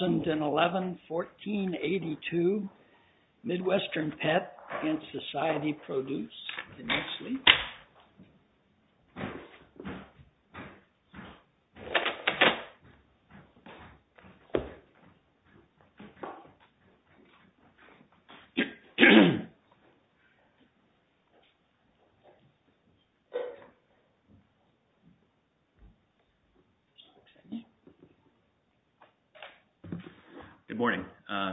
2011-14-82 Midwestern Pet against Society Produce. Good morning.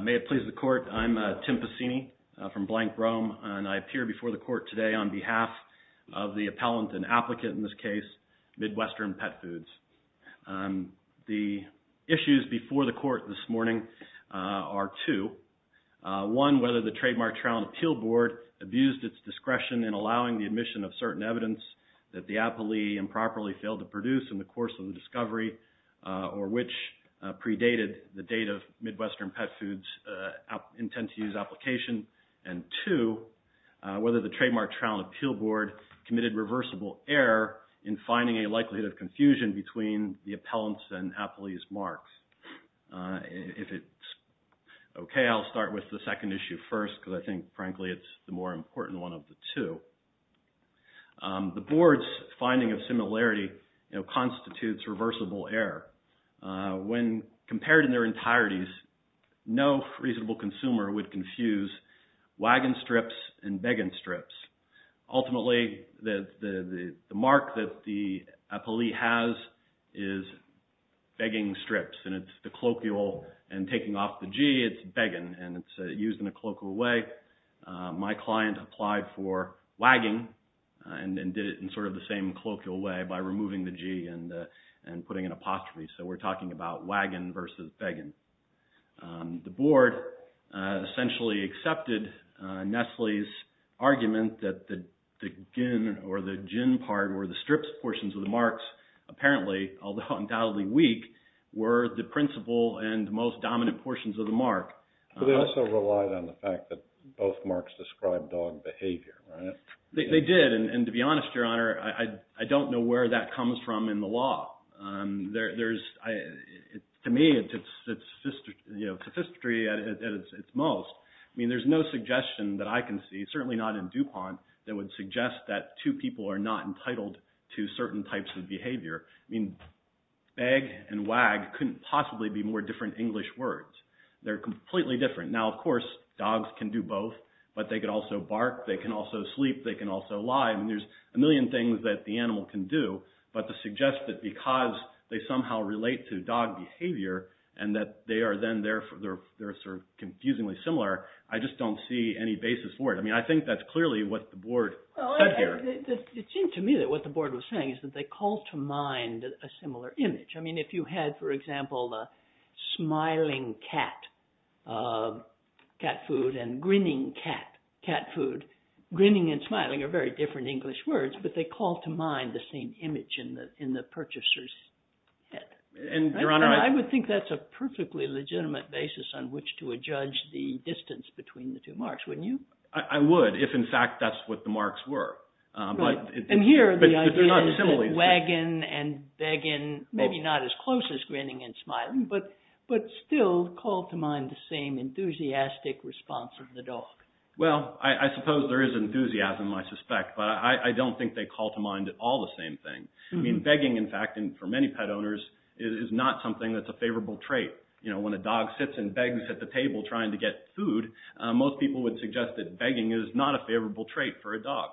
May it please the Court, I'm Tim Pesini from Blank Rome and I appear before the Court today on behalf of the appellant and applicant in this case, Midwestern Pet Foods. The issues before the Court this morning are two. One, whether the Trademark Trial and Appeal Board abused its discretion in allowing the admission of certain evidence that the appellee improperly failed to produce in the course of the discovery or which predated the date of Midwestern Pet Foods' intent to use application. And two, whether the Trademark Trial and Appeal Board committed reversible error in finding a likelihood of confusion between the appellant's and appellee's marks. If it's okay, I'll start with the second issue first because I think, frankly, it's the more important one of the two. The Board's finding of similarity constitutes reversible error. When compared in their entireties, no reasonable consumer would confuse wagon strips and begging strips. Ultimately, the mark that the appellee has is begging strips and it's the colloquial and taking off the G, it's begging and it's applied for wagging and did it in sort of the same colloquial way by removing the G and putting an apostrophe. So we're talking about wagon versus begging. The Board essentially accepted Nestle's argument that the gin or the gin part or the strips portions of the marks apparently, although undoubtedly weak, were the principal and most dominant portions of the mark. But they also relied on the fact that both marks described dog behavior, right? They did. And to be honest, Your Honor, I don't know where that comes from in the law. To me, it's sophisticated at its most. I mean, there's no suggestion that I can see, certainly not in DuPont, that would suggest that two people are not entitled to certain types of They're completely different. Now, of course, dogs can do both, but they could also bark. They can also sleep. They can also lie. And there's a million things that the animal can do. But to suggest that because they somehow relate to dog behavior and that they are then they're sort of confusingly similar, I just don't see any basis for it. I mean, I think that's clearly what the Board said here. It seemed to me that what the Board was saying is that they call to mind a similar image. I mean, if you had, for example, a smiling cat cat food and grinning cat cat food, grinning and smiling are very different English words, but they call to mind the same image in the purchaser's head. And Your Honor, I would think that's a perfectly legitimate basis on which to adjudge the distance between the two marks, wouldn't you? I would, if in fact that's what the marks were. And here the idea is that wagging and begging, maybe not as close as grinning and smiling, but still call to mind the same enthusiastic response of the dog. Well, I suppose there is enthusiasm, I suspect, but I don't think they call to mind all the same thing. I mean, begging, in fact, and for many pet owners, is not something that's a favorable trait. You know, when a dog sits and begs at the table trying to get food, most people would suggest that begging is not a favorable trait for a dog.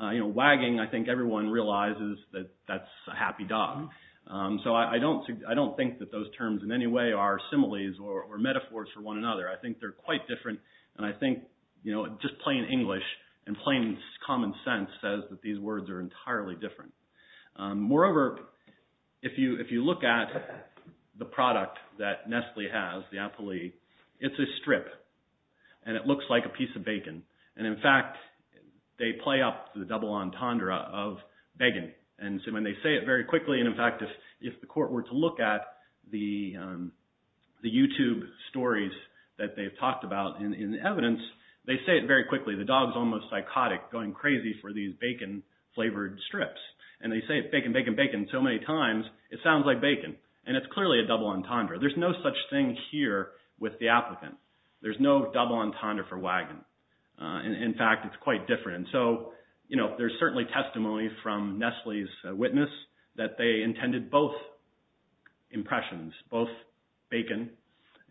You know, wagging, I think everyone realizes that that's a happy dog. So I don't think that those terms in any way are similes or metaphors for one another. I think they're quite different. And I think, you know, just plain English and plain common sense says that these words are entirely different. Moreover, if you look at the product that Nestle has, the Appley, it's a strip and it looks like a piece of bacon. And in fact, they play up the double entendre of begging. And so when they say it very quickly, and in fact, if the court were to look at the YouTube stories that they've talked about in the evidence, they say it very quickly. The dog's almost psychotic, going crazy for these bacon-flavored strips. And they say bacon, bacon, bacon so many times, it sounds like bacon. And it's clearly a double entendre. There's no such thing here with the applicant. There's no double entendre for wagon. And in fact, it's quite different. And so, you know, there's certainly testimony from Nestle's witness that they intended both impressions, both bacon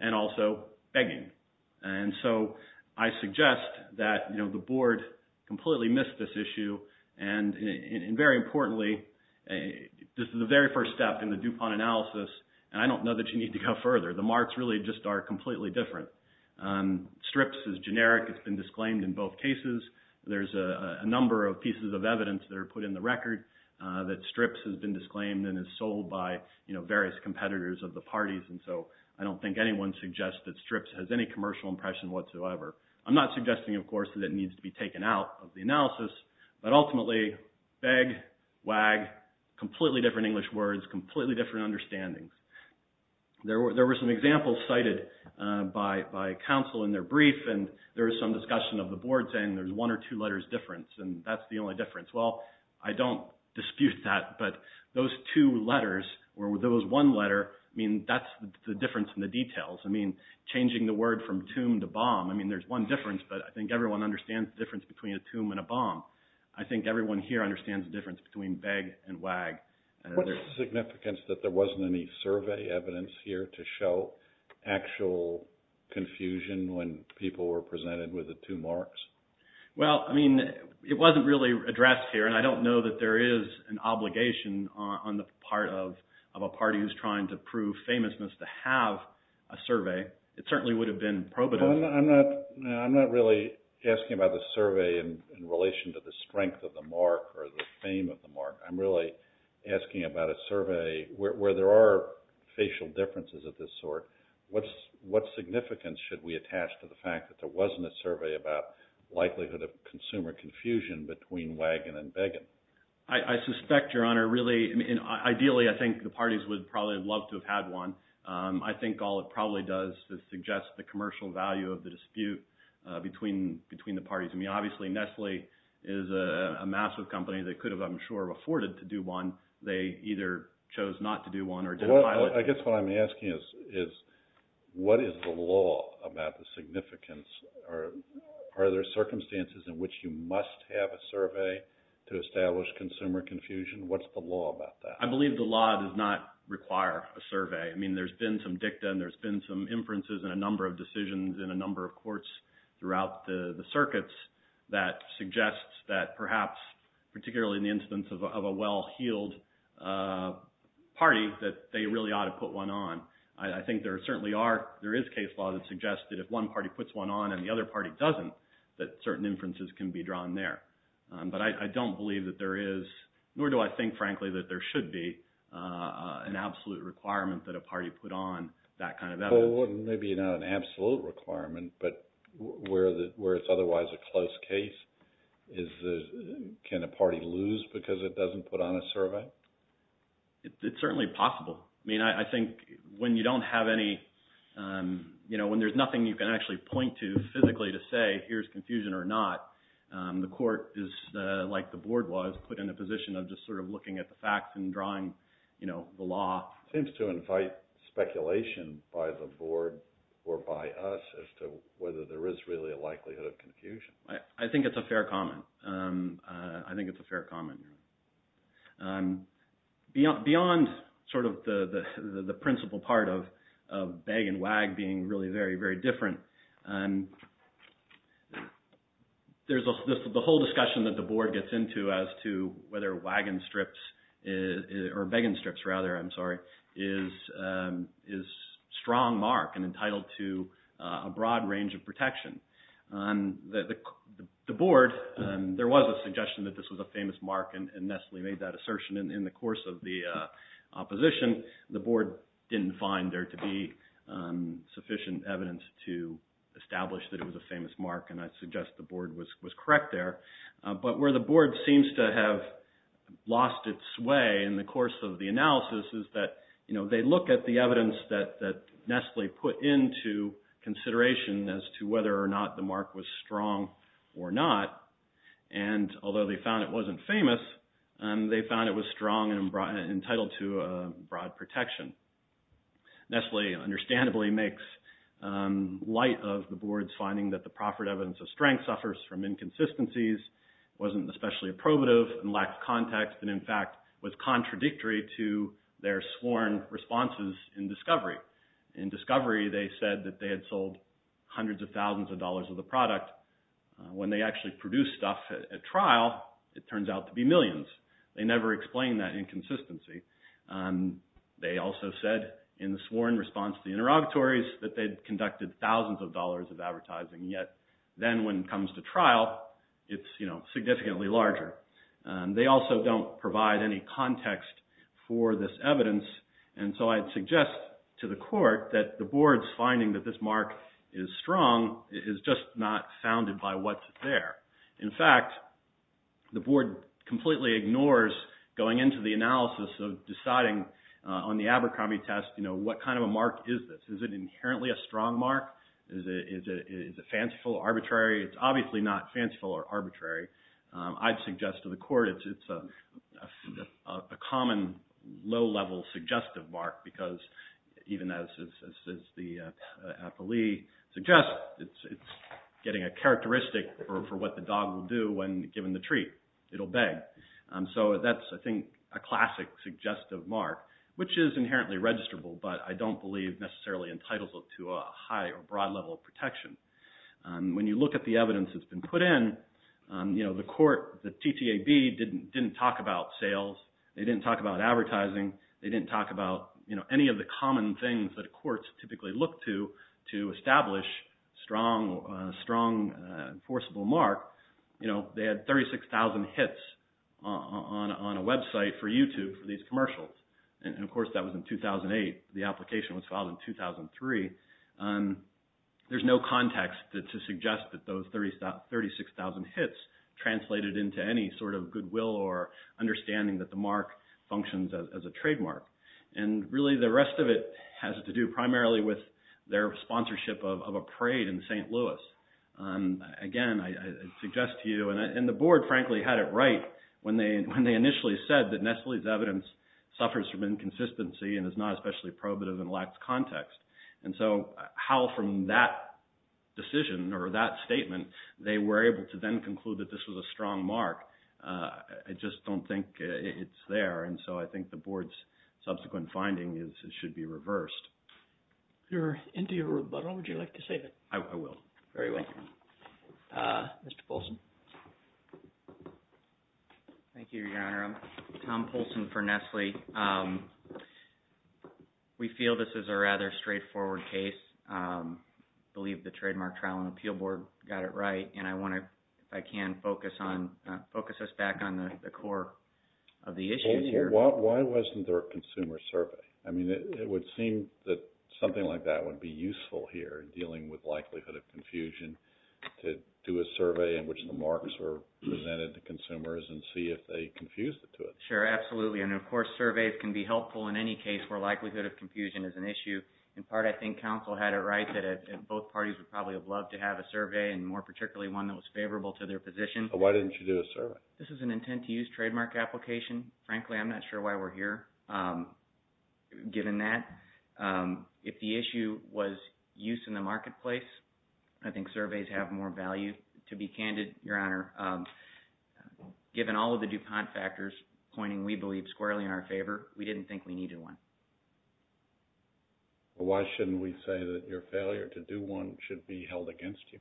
and also begging. And so I suggest that, you know, the board completely missed this issue. And very importantly, this is the very first step in the DuPont analysis. And I don't know that you need to go further. The marks really just are completely different. Strips is generic. It's been disclaimed in both cases. There's a number of pieces of evidence that are put in the record that strips has been disclaimed and is sold by, you know, various competitors of the parties. And so I don't think anyone suggests that strips has any commercial impression whatsoever. I'm not suggesting, of course, that it needs to be taken out of the analysis. But ultimately, beg, wag, completely different English words, completely different understandings. There were some examples cited by counsel in their brief, and there was some discussion of the board saying there's one or two letters difference, and that's the only difference. Well, I don't dispute that. But those two letters or those one letter, I mean, that's the difference in the details. I mean, changing the word from tomb to bomb. I mean, there's one difference, but I think everyone understands the difference between a tomb and a bomb. I think everyone here understands the difference between beg and wag. What's the significance that there wasn't any survey evidence here to show actual confusion when people were presented with the two marks? Well, I mean, it wasn't really addressed here. And I don't know that there is an obligation on the part of a party who's trying to prove famousness to have a survey. It certainly would have been probative. I'm not really asking about the survey in relation to the strength of the mark or the fame of the mark. I'm really asking about a survey where there are facial differences of this sort. What's what significance should we attach to the fact that there wasn't a survey about likelihood of consumer confusion between wagon and beggin? I suspect, Your Honor, really, ideally, I think the parties would probably love to have had one. I think all it probably does is suggest the commercial value of the dispute between between the parties. I mean, obviously, Nestle is a massive company that could have, I'm sure, afforded to do one. They either chose not to do one or I guess what I'm asking is, is what is the law about the significance or are there circumstances in which you must have a survey to establish consumer confusion? What's the law about that? I believe the law does not require a survey. I mean, there's been some dicta and there's been some inferences and a number of that suggests that perhaps, particularly in the instance of a well-heeled party, that they really ought to put one on. I think there certainly are there is case law that suggests that if one party puts one on and the other party doesn't, that certain inferences can be drawn there. But I don't believe that there is, nor do I think, frankly, that there should be an absolute requirement that a party put on that kind of effort. Maybe not an absolute requirement, but where it's otherwise a close case, can a party lose because it doesn't put on a survey? It's certainly possible. I mean, I think when you don't have any, you know, when there's nothing you can actually point to physically to say here's confusion or not, the court is like the board was put in a position of just sort of looking at the facts and drawing, you know, the law. Seems to invite speculation by the board or by us as to whether there is really a likelihood of confusion. I think it's a fair comment. I think it's a fair comment. Beyond sort of the principal part of beg and wag being really very, very different, there's the whole discussion that the board gets into as to whether wagon strips or whether, I'm sorry, is strong mark and entitled to a broad range of protection. The board, there was a suggestion that this was a famous mark and Nestle made that assertion in the course of the opposition. The board didn't find there to be sufficient evidence to establish that it was a famous mark and I suggest the board was correct there. But where the board seems to have lost its way in the course of the analysis is that, you know, they look at the evidence that Nestle put into consideration as to whether or not the mark was strong or not and although they found it wasn't famous, they found it was strong and entitled to broad protection. Nestle understandably makes light of the board's finding that the proffered evidence of inconsistencies wasn't especially probative and lacked context and in fact was contradictory to their sworn responses in discovery. In discovery, they said that they had sold hundreds of thousands of dollars of the product. When they actually produced stuff at trial, it turns out to be millions. They never explained that inconsistency. They also said in the sworn response to the interrogatories that they'd conducted thousands of dollars of advertising. Yet then when it comes to trial, it's, you know, significantly larger. They also don't provide any context for this evidence and so I'd suggest to the court that the board's finding that this mark is strong is just not founded by what's there. In fact, the board completely ignores going into the analysis of deciding on the Abercrombie test, you know, what kind of a mark is this? Is it inherently a strong mark? Is it fanciful or arbitrary? It's obviously not fanciful or arbitrary. I'd suggest to the court it's a common low-level suggestive mark because even as the appellee suggests, it's getting a characteristic for what the dog will do when given the treat. It'll beg. So that's, I think, a classic suggestive mark, which is inherently registrable, but I think it's a broad level of protection. When you look at the evidence that's been put in, you know, the court, the TTAB, didn't talk about sales. They didn't talk about advertising. They didn't talk about, you know, any of the common things that courts typically look to to establish strong, enforceable mark. You know, they had 36,000 hits on a website for YouTube for these commercials. And of course, that was in 2008. The application was filed in 2003. There's no context to suggest that those 36,000 hits translated into any sort of goodwill or understanding that the mark functions as a trademark. And really, the rest of it has to do primarily with their sponsorship of a parade in St. Louis. Again, I suggest to you, and the board, frankly, had it right when they when they initially said that Nestle's evidence suffers from inconsistency and is not especially probative and lacks context. And so how from that decision or that statement, they were able to then conclude that this was a strong mark. I just don't think it's there. And so I think the board's subsequent finding is it should be reversed. You're into your rebuttal. Would you like to save it? I will. Very well. Mr. Polson. Thank you, Your Honor. Tom Polson for Nestle. Thank you, Your Honor. I'm sorry. We feel this is a rather straightforward case, believe the Trademark Trial and Appeal Board got it right. And I want to, if I can, focus on focus us back on the core of the issue here. Why wasn't there a consumer survey? I mean, it would seem that something like that would be useful here, dealing with likelihood of confusion, to do a survey in which the marks were presented to consumers and see if they confused it to it. Sure. Absolutely. And of course, surveys can be helpful in any case where likelihood of confusion is an issue. In part, I think counsel had it right that both parties would probably have loved to have a survey and more particularly one that was favorable to their position. Why didn't you do a survey? This is an intent to use trademark application. Frankly, I'm not sure why we're here given that. If the issue was use in the marketplace, I think surveys have more value. To be candid, Your Honor, given all of the DuPont factors pointing, we believe squarely in our favor. We didn't think we needed one. Why shouldn't we say that your failure to do one should be held against you?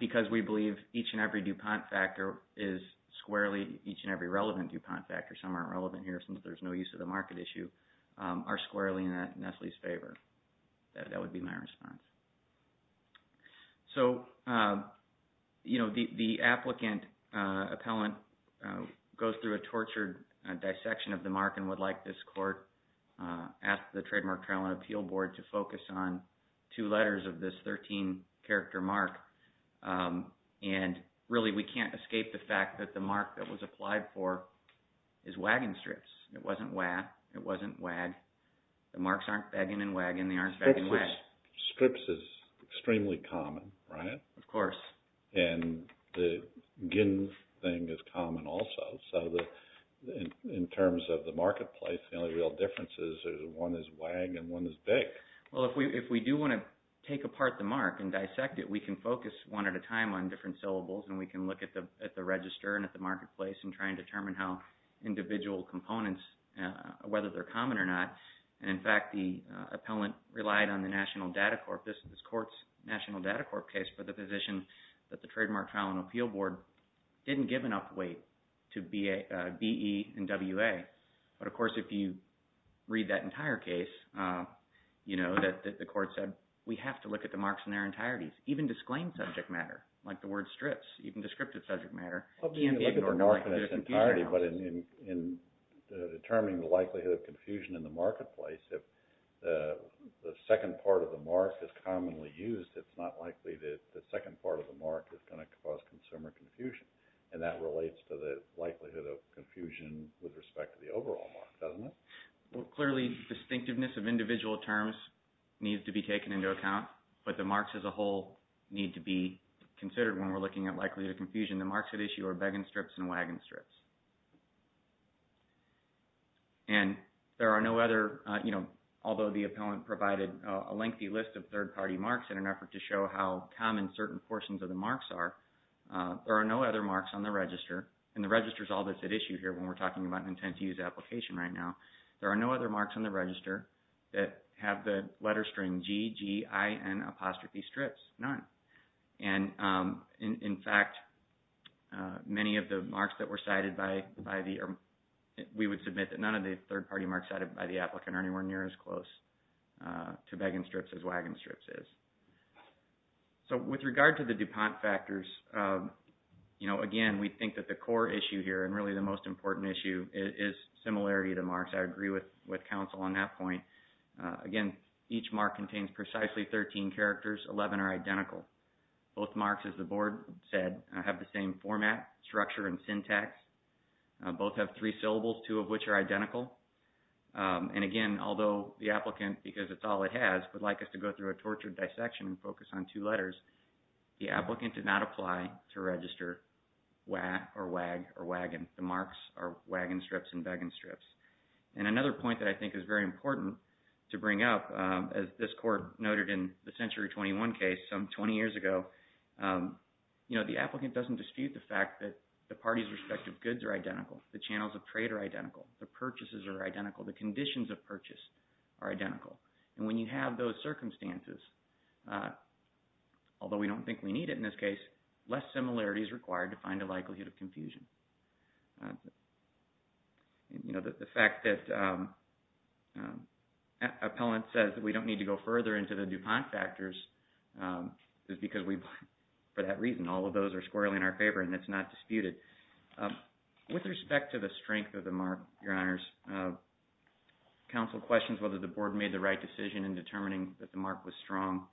Because we believe each and every DuPont factor is squarely, each and every relevant DuPont factor, some aren't relevant here since there's no use of the market issue, are squarely in Nestle's favor. That would be my response. So, you know, the applicant, appellant goes through a tortured dissection of the mark and would like this court at the Trademark Trial and Appeal Board to focus on two letters of this 13 character mark. And really, we can't escape the fact that the mark that was applied for is wagon strips. It wasn't wag, it wasn't wag, the marks aren't wagon and wagon, they aren't wagon strips is extremely common, right? Of course. And the gin thing is common also. So in terms of the marketplace, the only real difference is one is wag and one is big. Well, if we do want to take apart the mark and dissect it, we can focus one at a time on different syllables and we can look at the register and at the marketplace and try and determine how individual components, whether they're common or not. And in fact, the appellant relied on the National Data Corp, this court's National Data Corp case for the position that the Trademark Trial and Appeal Board didn't give enough weight to BE and WA. But of course, if you read that entire case, you know, that the court said, we have to look at the marks in their entireties, even disclaimed subject matter, like the word strips, even descriptive subject matter. But in determining the likelihood of confusion in the marketplace, if the second part of the mark is commonly used, it's not likely that the second part of the mark is going to cause consumer confusion. And that relates to the likelihood of confusion with respect to the overall mark, doesn't it? Well, clearly distinctiveness of individual terms needs to be taken into account, but the marks as a whole need to be considered when we're looking at likelihood of confusion. The marks at issue are Began strips and Wagon strips. And there are no other, you know, although the appellant provided a lengthy list of third-party marks in an effort to show how common certain portions of the marks are, there are no other marks on the register. And the register is all that's at issue here when we're talking about an intent to use application right now. There are no other marks on the register that have the letter string G, G, I, N, apostrophe, strips, none. And in fact, many of the marks that were cited by the, we would submit that none of the third-party marks cited by the applicant are anywhere near as close to Began strips as Wagon strips is. So with regard to the DuPont factors, you know, again, we think that the core issue here and really the most important issue is similarity of the marks. I agree with counsel on that point. Again, each mark contains precisely 13 characters. 11 are identical. Both marks, as the board said, have the same format, structure, and syntax. Both have three syllables, two of which are identical. And again, although the applicant, because it's all it has, would like us to go through a tortured dissection and focus on two letters, the applicant did not apply to register WA or WAG or WAGON. The marks are WAGON strips and BEGAN strips. And another point that I think is very important to bring up, as this court noted in the Century 21 case some 20 years ago, you know, the applicant doesn't dispute the fact that the parties' respective goods are identical, the channels of trade are identical, the purchases are identical, the conditions of purchase are identical. And when you have those circumstances, although we don't think we need it in this case, less similarity is required to find a likelihood of confusion. You know, the fact that Appellant says that we don't need to go further into the quant factors is because we, for that reason, all of those are squarely in our favor and it's not disputed. With respect to the strength of the mark, Your Honors, counsel questions whether the board made the right decision in determining that the mark was strong.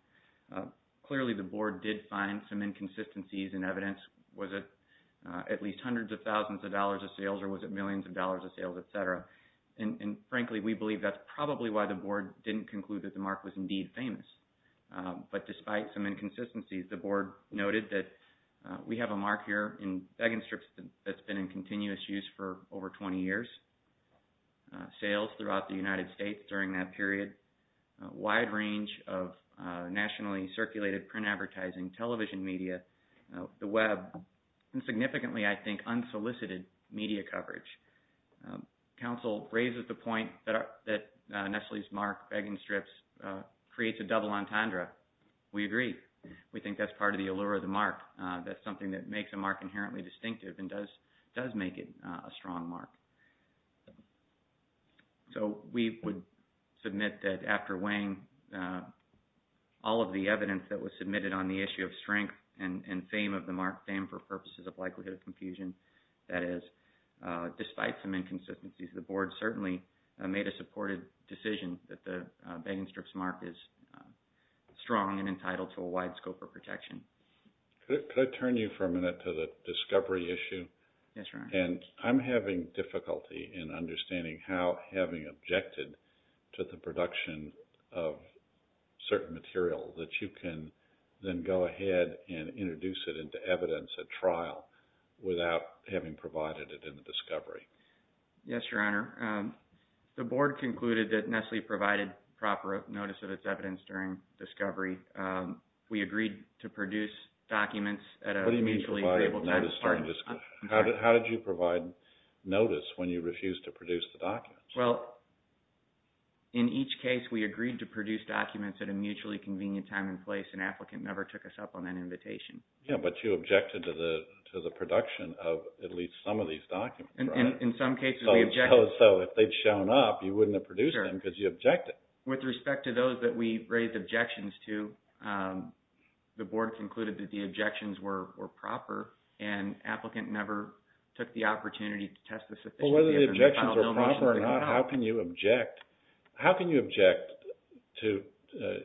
Clearly, the board did find some inconsistencies in evidence. Was it at least hundreds of thousands of dollars of sales or was it millions of dollars of sales, et cetera? And frankly, we believe that's probably why the board didn't conclude that the mark was indeed famous. But despite some inconsistencies, the board noted that we have a mark here in Begenstrips that's been in continuous use for over 20 years. Sales throughout the United States during that period, a wide range of nationally circulated print advertising, television media, the web, and significantly, I think, unsolicited media coverage. Counsel raises the point that Nestle's mark, Begenstrips, creates a double entendre. We agree. We think that's part of the allure of the mark. That's something that makes a mark inherently distinctive and does make it a strong mark. So we would submit that after weighing all of the evidence that was submitted on the issue of strength and fame of the mark, fame for purposes of likelihood of confusion, that is, despite some inconsistencies, the board certainly made a supportive decision that the Begenstrips mark is strong and entitled to a wide scope of protection. Could I turn you for a minute to the discovery issue? Yes, Your Honor. And I'm having difficulty in understanding how having objected to the production of certain material that you can then go ahead and introduce it into evidence at trial without having provided it in the discovery. Yes, Your Honor. The board concluded that Nestle provided proper notice of its evidence during discovery. We agreed to produce documents at a mutually agreeable time. How did you provide notice when you refused to produce the documents? Well, in each case, we agreed to produce documents at a mutually convenient time and place. An applicant never took us up on that invitation. Yeah, but you objected to the production of at least some of these documents, right? In some cases, we objected. So, if they'd shown up, you wouldn't have produced them because you objected. With respect to those that we raised objections to, the board concluded that the objections were proper and applicant never took the opportunity to test the sufficiency of the final nomenclature that we had. Well, whether the objections were proper or not, how can you object to,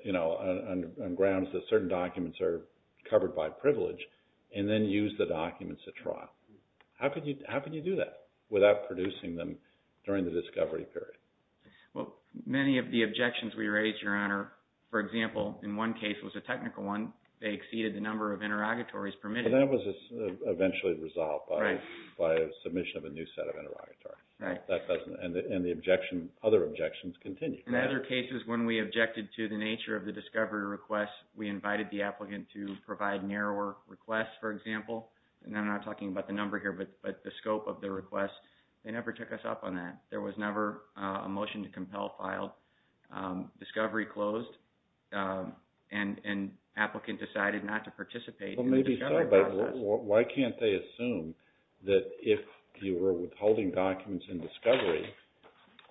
you know, on grounds that certain documents are covered by privilege and then use the documents at trial? How could you do that? Without producing them during the discovery period? Well, many of the objections we raised, Your Honor, for example, in one case was a technical one. They exceeded the number of interrogatories permitted. But that was eventually resolved by a submission of a new set of interrogatories. Right. And the objection, other objections, continued. In other cases, when we objected to the nature of the discovery request, we invited the applicant to provide narrower requests, for example. And I'm not talking about the number here, but the scope of the request. They never took us up on that. There was never a motion to compel file. Discovery closed and an applicant decided not to participate. Well, maybe so, but why can't they assume that if you were withholding documents in discovery,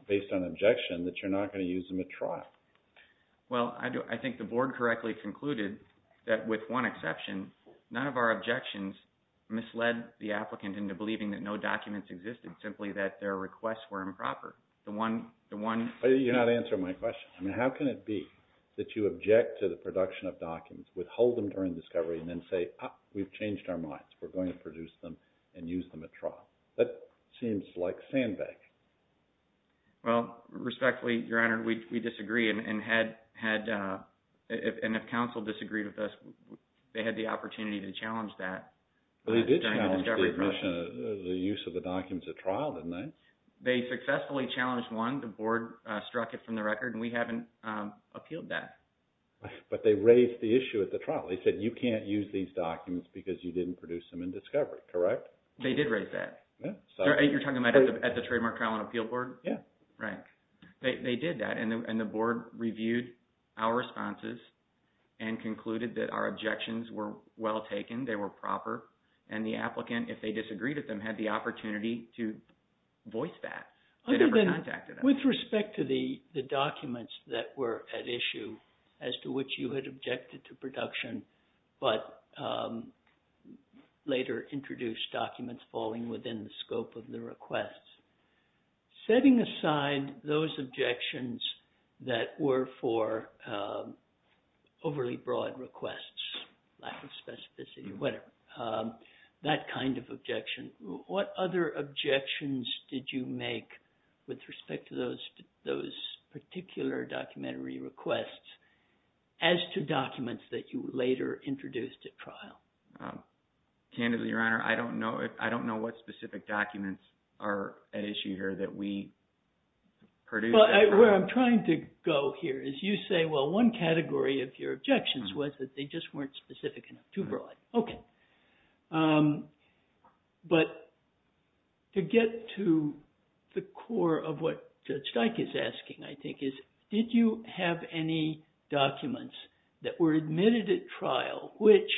based on objection, that you're not going to use them at trial? Well, I think the board correctly concluded that with one exception, none of our objections misled the applicant into believing that no documents existed, simply that their requests were improper. The one, the one. But you're not answering my question. I mean, how can it be that you object to the production of documents, withhold them during discovery, and then say, ah, we've changed our minds. We're going to produce them and use them at trial. That seems like sandbag. Well, respectfully, Your Honor, we disagree. And had, had, and if counsel disagreed with us, they had the opportunity to challenge that. They did challenge the admission, the use of the documents at trial, didn't they? They successfully challenged one. The board struck it from the record, and we haven't appealed that. But they raised the issue at the trial. They said, you can't use these documents because you didn't produce them in discovery. Correct? They did raise that. Yeah. You're talking about at the Trademark Trial and Appeal Board? Yeah. Right. They, they did that. And the, and the board reviewed our responses and concluded that our objections were well taken. They were proper. And the applicant, if they disagreed with them, had the opportunity to voice that. They never contacted us. Other than, with respect to the, the documents that were at issue, as to which you had objected to production, but later introduced documents falling within the scope of the requests, setting aside those objections that were for overly broad requests, lack of specificity, whatever, that kind of objection, what other objections did you make with respect to those, those particular documentary requests as to documents that you later introduced at trial? Candidly, Your Honor, I don't know if, I don't know what specific documents are at issue here that we produced. Well, where I'm trying to go here is you say, well, one category of your objections was that they just weren't specific enough to broad. Okay. But to get to the core of what Judge Dyke is asking, I think, is did you have any documents that were admitted at trial, which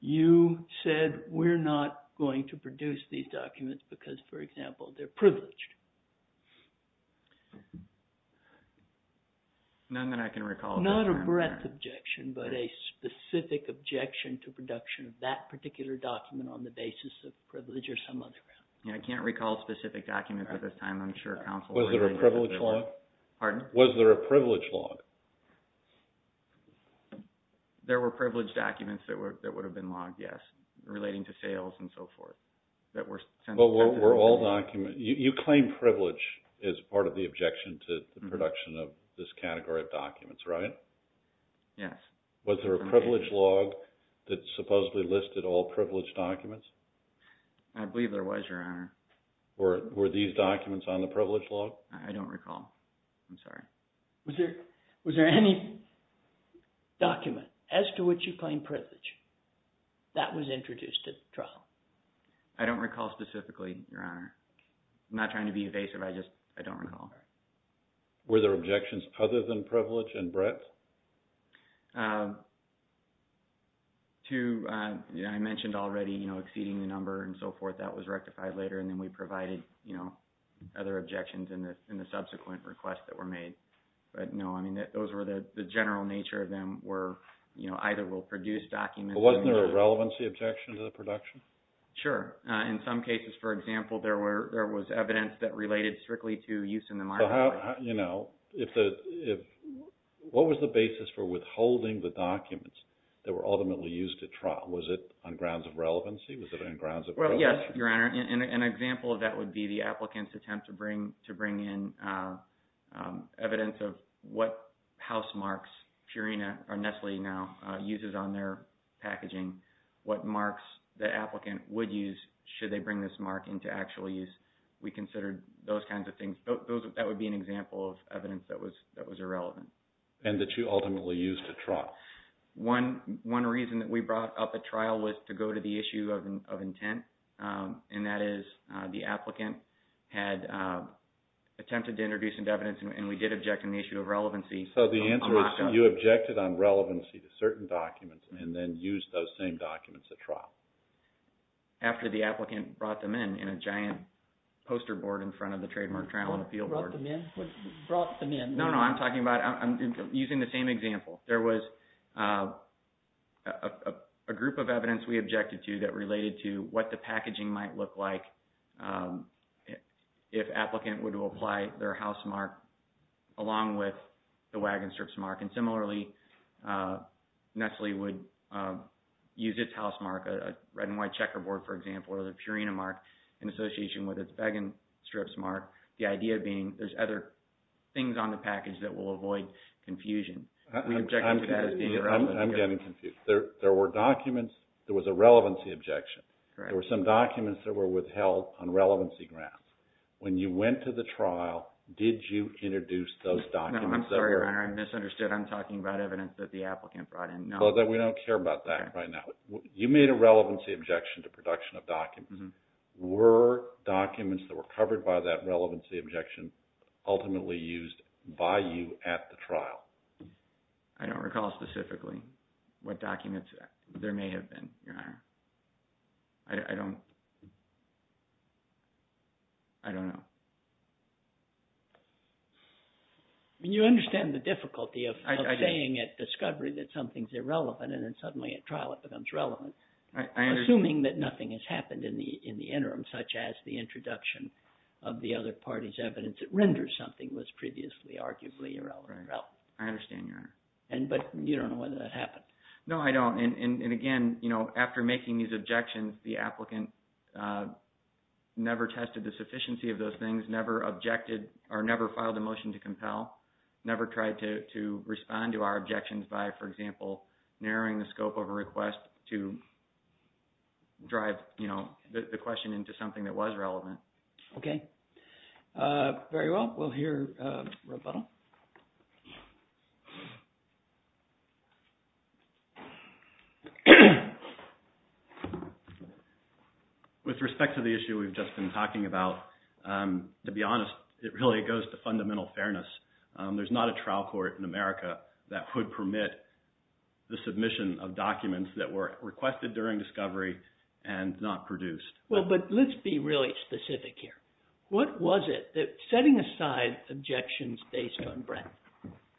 you said, we're not going to produce these documents because, for example, they're privileged? None that I can recall at this time, Your Honor. Not a breadth objection, but a specific objection to production of that particular document on the basis of privilege or some other grounds. Yeah, I can't recall specific documents at this time. I'm sure counsel would agree. Was there a privilege law? Pardon? Was there a privilege law? There were privileged documents that would have been logged, yes, relating to sales and so forth. But were all documents, you claim privilege as part of the objection to the production of this category of documents, right? Yes. Was there a privilege law that supposedly listed all privileged documents? I believe there was, Your Honor. I don't recall. I'm sorry. Was there any document as to what you claim privilege that was introduced at trial? I don't recall specifically, Your Honor. I'm not trying to be evasive. I just, I don't recall. Were there objections other than privilege and breadth? I mentioned already exceeding the number and so forth. That was rectified later, and then we provided other objections in the subsequent request that were made. But no. I mean, those were the general nature of them were, you know, either we'll produce documents or... But wasn't there a relevancy objection to the production? Sure. In some cases, for example, there were, there was evidence that related strictly to use in the marketplace. So how, you know, if the, what was the basis for withholding the documents that were ultimately used at trial? Was it on grounds of relevancy? Was it on grounds of relevance? Well, yes, Your Honor. An example of that would be the applicant's attempt to bring in evidence of what house marks Purina or Nestle now uses on their packaging, what marks the applicant would use should they bring this mark into actual use. We considered those kinds of things. That would be an example of evidence that was irrelevant. And that you ultimately used at trial. One reason that we brought up at trial was to go to the issue of intent. And that is the applicant had attempted to introduce some evidence and we did object on the issue of relevancy. So the answer is you objected on relevancy to certain documents and then used those same documents at trial. After the applicant brought them in, in a giant poster board in front of the trademark trial and appeal board. What brought them in? What brought them in? No, no. I'm talking about, I'm using the same example. There was a group of evidence we objected to that related to what the packaging might look like if applicant would apply their house mark along with the wagon strips mark. And similarly, Nestle would use its house mark, a red and white checkerboard, for example, or the Purina mark in association with its wagon strips mark. The idea being there's other things on the package that will avoid confusion. I'm getting confused. There were documents, there was a relevancy objection. There were some documents that were withheld on relevancy grants. When you went to the trial, did you introduce those documents? I'm sorry, Your Honor. I misunderstood. I'm talking about evidence that the applicant brought in. We don't care about that right now. You made a relevancy objection to production of documents. Were documents that were covered by that relevancy objection ultimately used by you at the trial? I don't recall specifically what documents there may have been, Your Honor. I don't... I don't know. You understand the difficulty of saying at discovery that something's irrelevant and then suddenly at trial it becomes relevant. I understand. Assuming that nothing has happened in the interim, such as the introduction of the other I understand, Your Honor. But you don't know whether that happened. No, I don't. Again, after making these objections, the applicant never tested the sufficiency of those things, never objected or never filed a motion to compel, never tried to respond to our objections by, for example, narrowing the scope of a request to drive the question into something that was relevant. Okay. Very well. We'll hear rebuttal. With respect to the issue we've just been talking about, to be honest, it really goes to fundamental fairness. There's not a trial court in America that would permit the submission of documents that were requested during discovery and not produced. Well, but let's be really specific here. What was it, setting aside objections based on breadth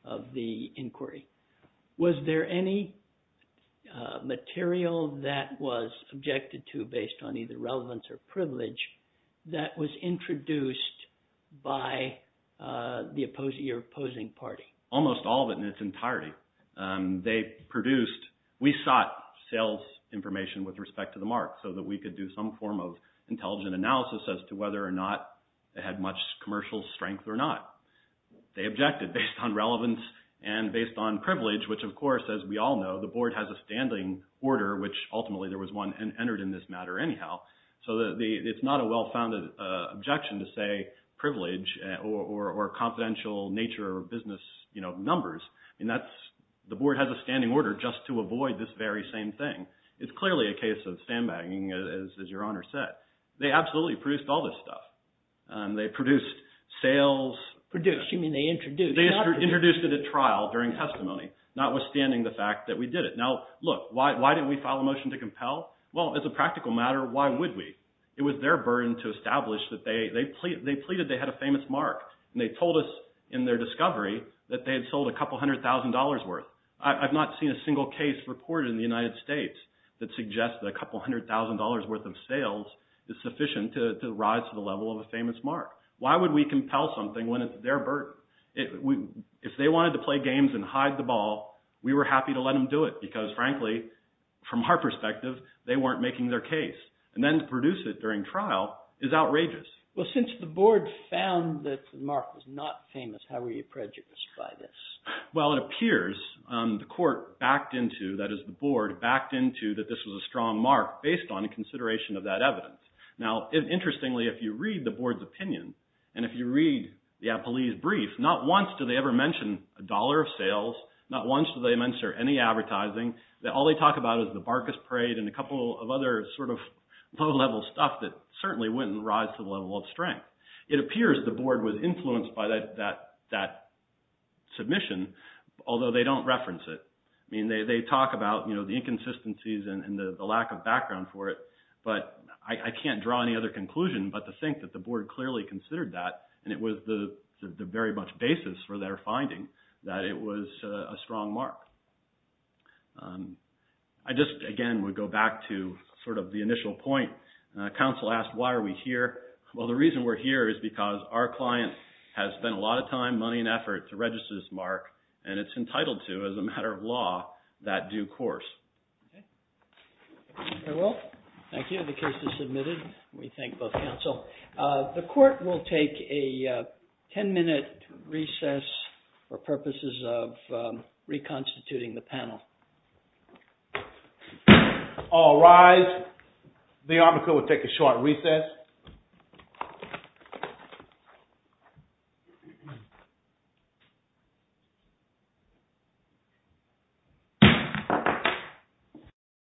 of the inquiry, was there any material that was objected to based on either relevance or privilege that was introduced by the opposing party? Almost all of it in its entirety. They produced, we sought sales information with respect to the mark so that we could do some form of intelligent analysis as to whether or not they had much commercial strength or not. They objected based on relevance and based on privilege, which, of course, as we all know, the Board has a standing order, which ultimately there was one entered in this matter anyhow. So it's not a well-founded objection to say privilege or confidential nature of business numbers. The Board has a standing order just to avoid this very same thing. It's clearly a case of sandbagging, as Your Honor said. They absolutely produced all this stuff. They produced sales. Produced, you mean they introduced. They introduced it at trial during testimony, notwithstanding the fact that we did it. Now, look, why didn't we file a motion to compel? Well, as a practical matter, why would we? It was their burden to establish that they pleaded they had a famous mark. And they told us in their discovery that they had sold a couple hundred thousand dollars worth. I've not seen a single case reported in the United States that suggests that a couple hundred thousand dollars worth of sales is sufficient to rise to the level of a famous mark. Why would we compel something when it's their burden? If they wanted to play games and hide the ball, we were happy to let them do it because, frankly, from our perspective, they weren't making their case. And then to produce it during trial is outrageous. Well, since the Board found that the mark was not famous, how were you prejudiced by this? Well, it appears the Court backed into, that is the Board, backed into that this was a strong mark based on a consideration of that evidence. Now, interestingly, if you read the Board's opinion, and if you read the Appellee's brief, not once do they ever mention a dollar of sales. Not once do they mention any advertising. All they talk about is the Barkas Parade and a couple of other sort of low-level stuff that certainly wouldn't rise to the level of strength. It appears the Board was influenced by that submission, although they don't reference it. I mean, they talk about the inconsistencies and the lack of background for it, but I can't draw any other conclusion but to think that the Board clearly considered that, and it was the very much basis for their finding that it was a strong mark. I just, again, would go back to sort of the initial point. Counsel asked, why are we here? Well, the reason we're here is because our client has spent a lot of time, money, and effort to register this mark, and it's entitled to, as a matter of law, that due course. Okay. Thank you. The case is submitted. We thank both counsel. The Court will take a 10-minute recess for purposes of reconstituting the panel. All rise. The armature will take a short recess.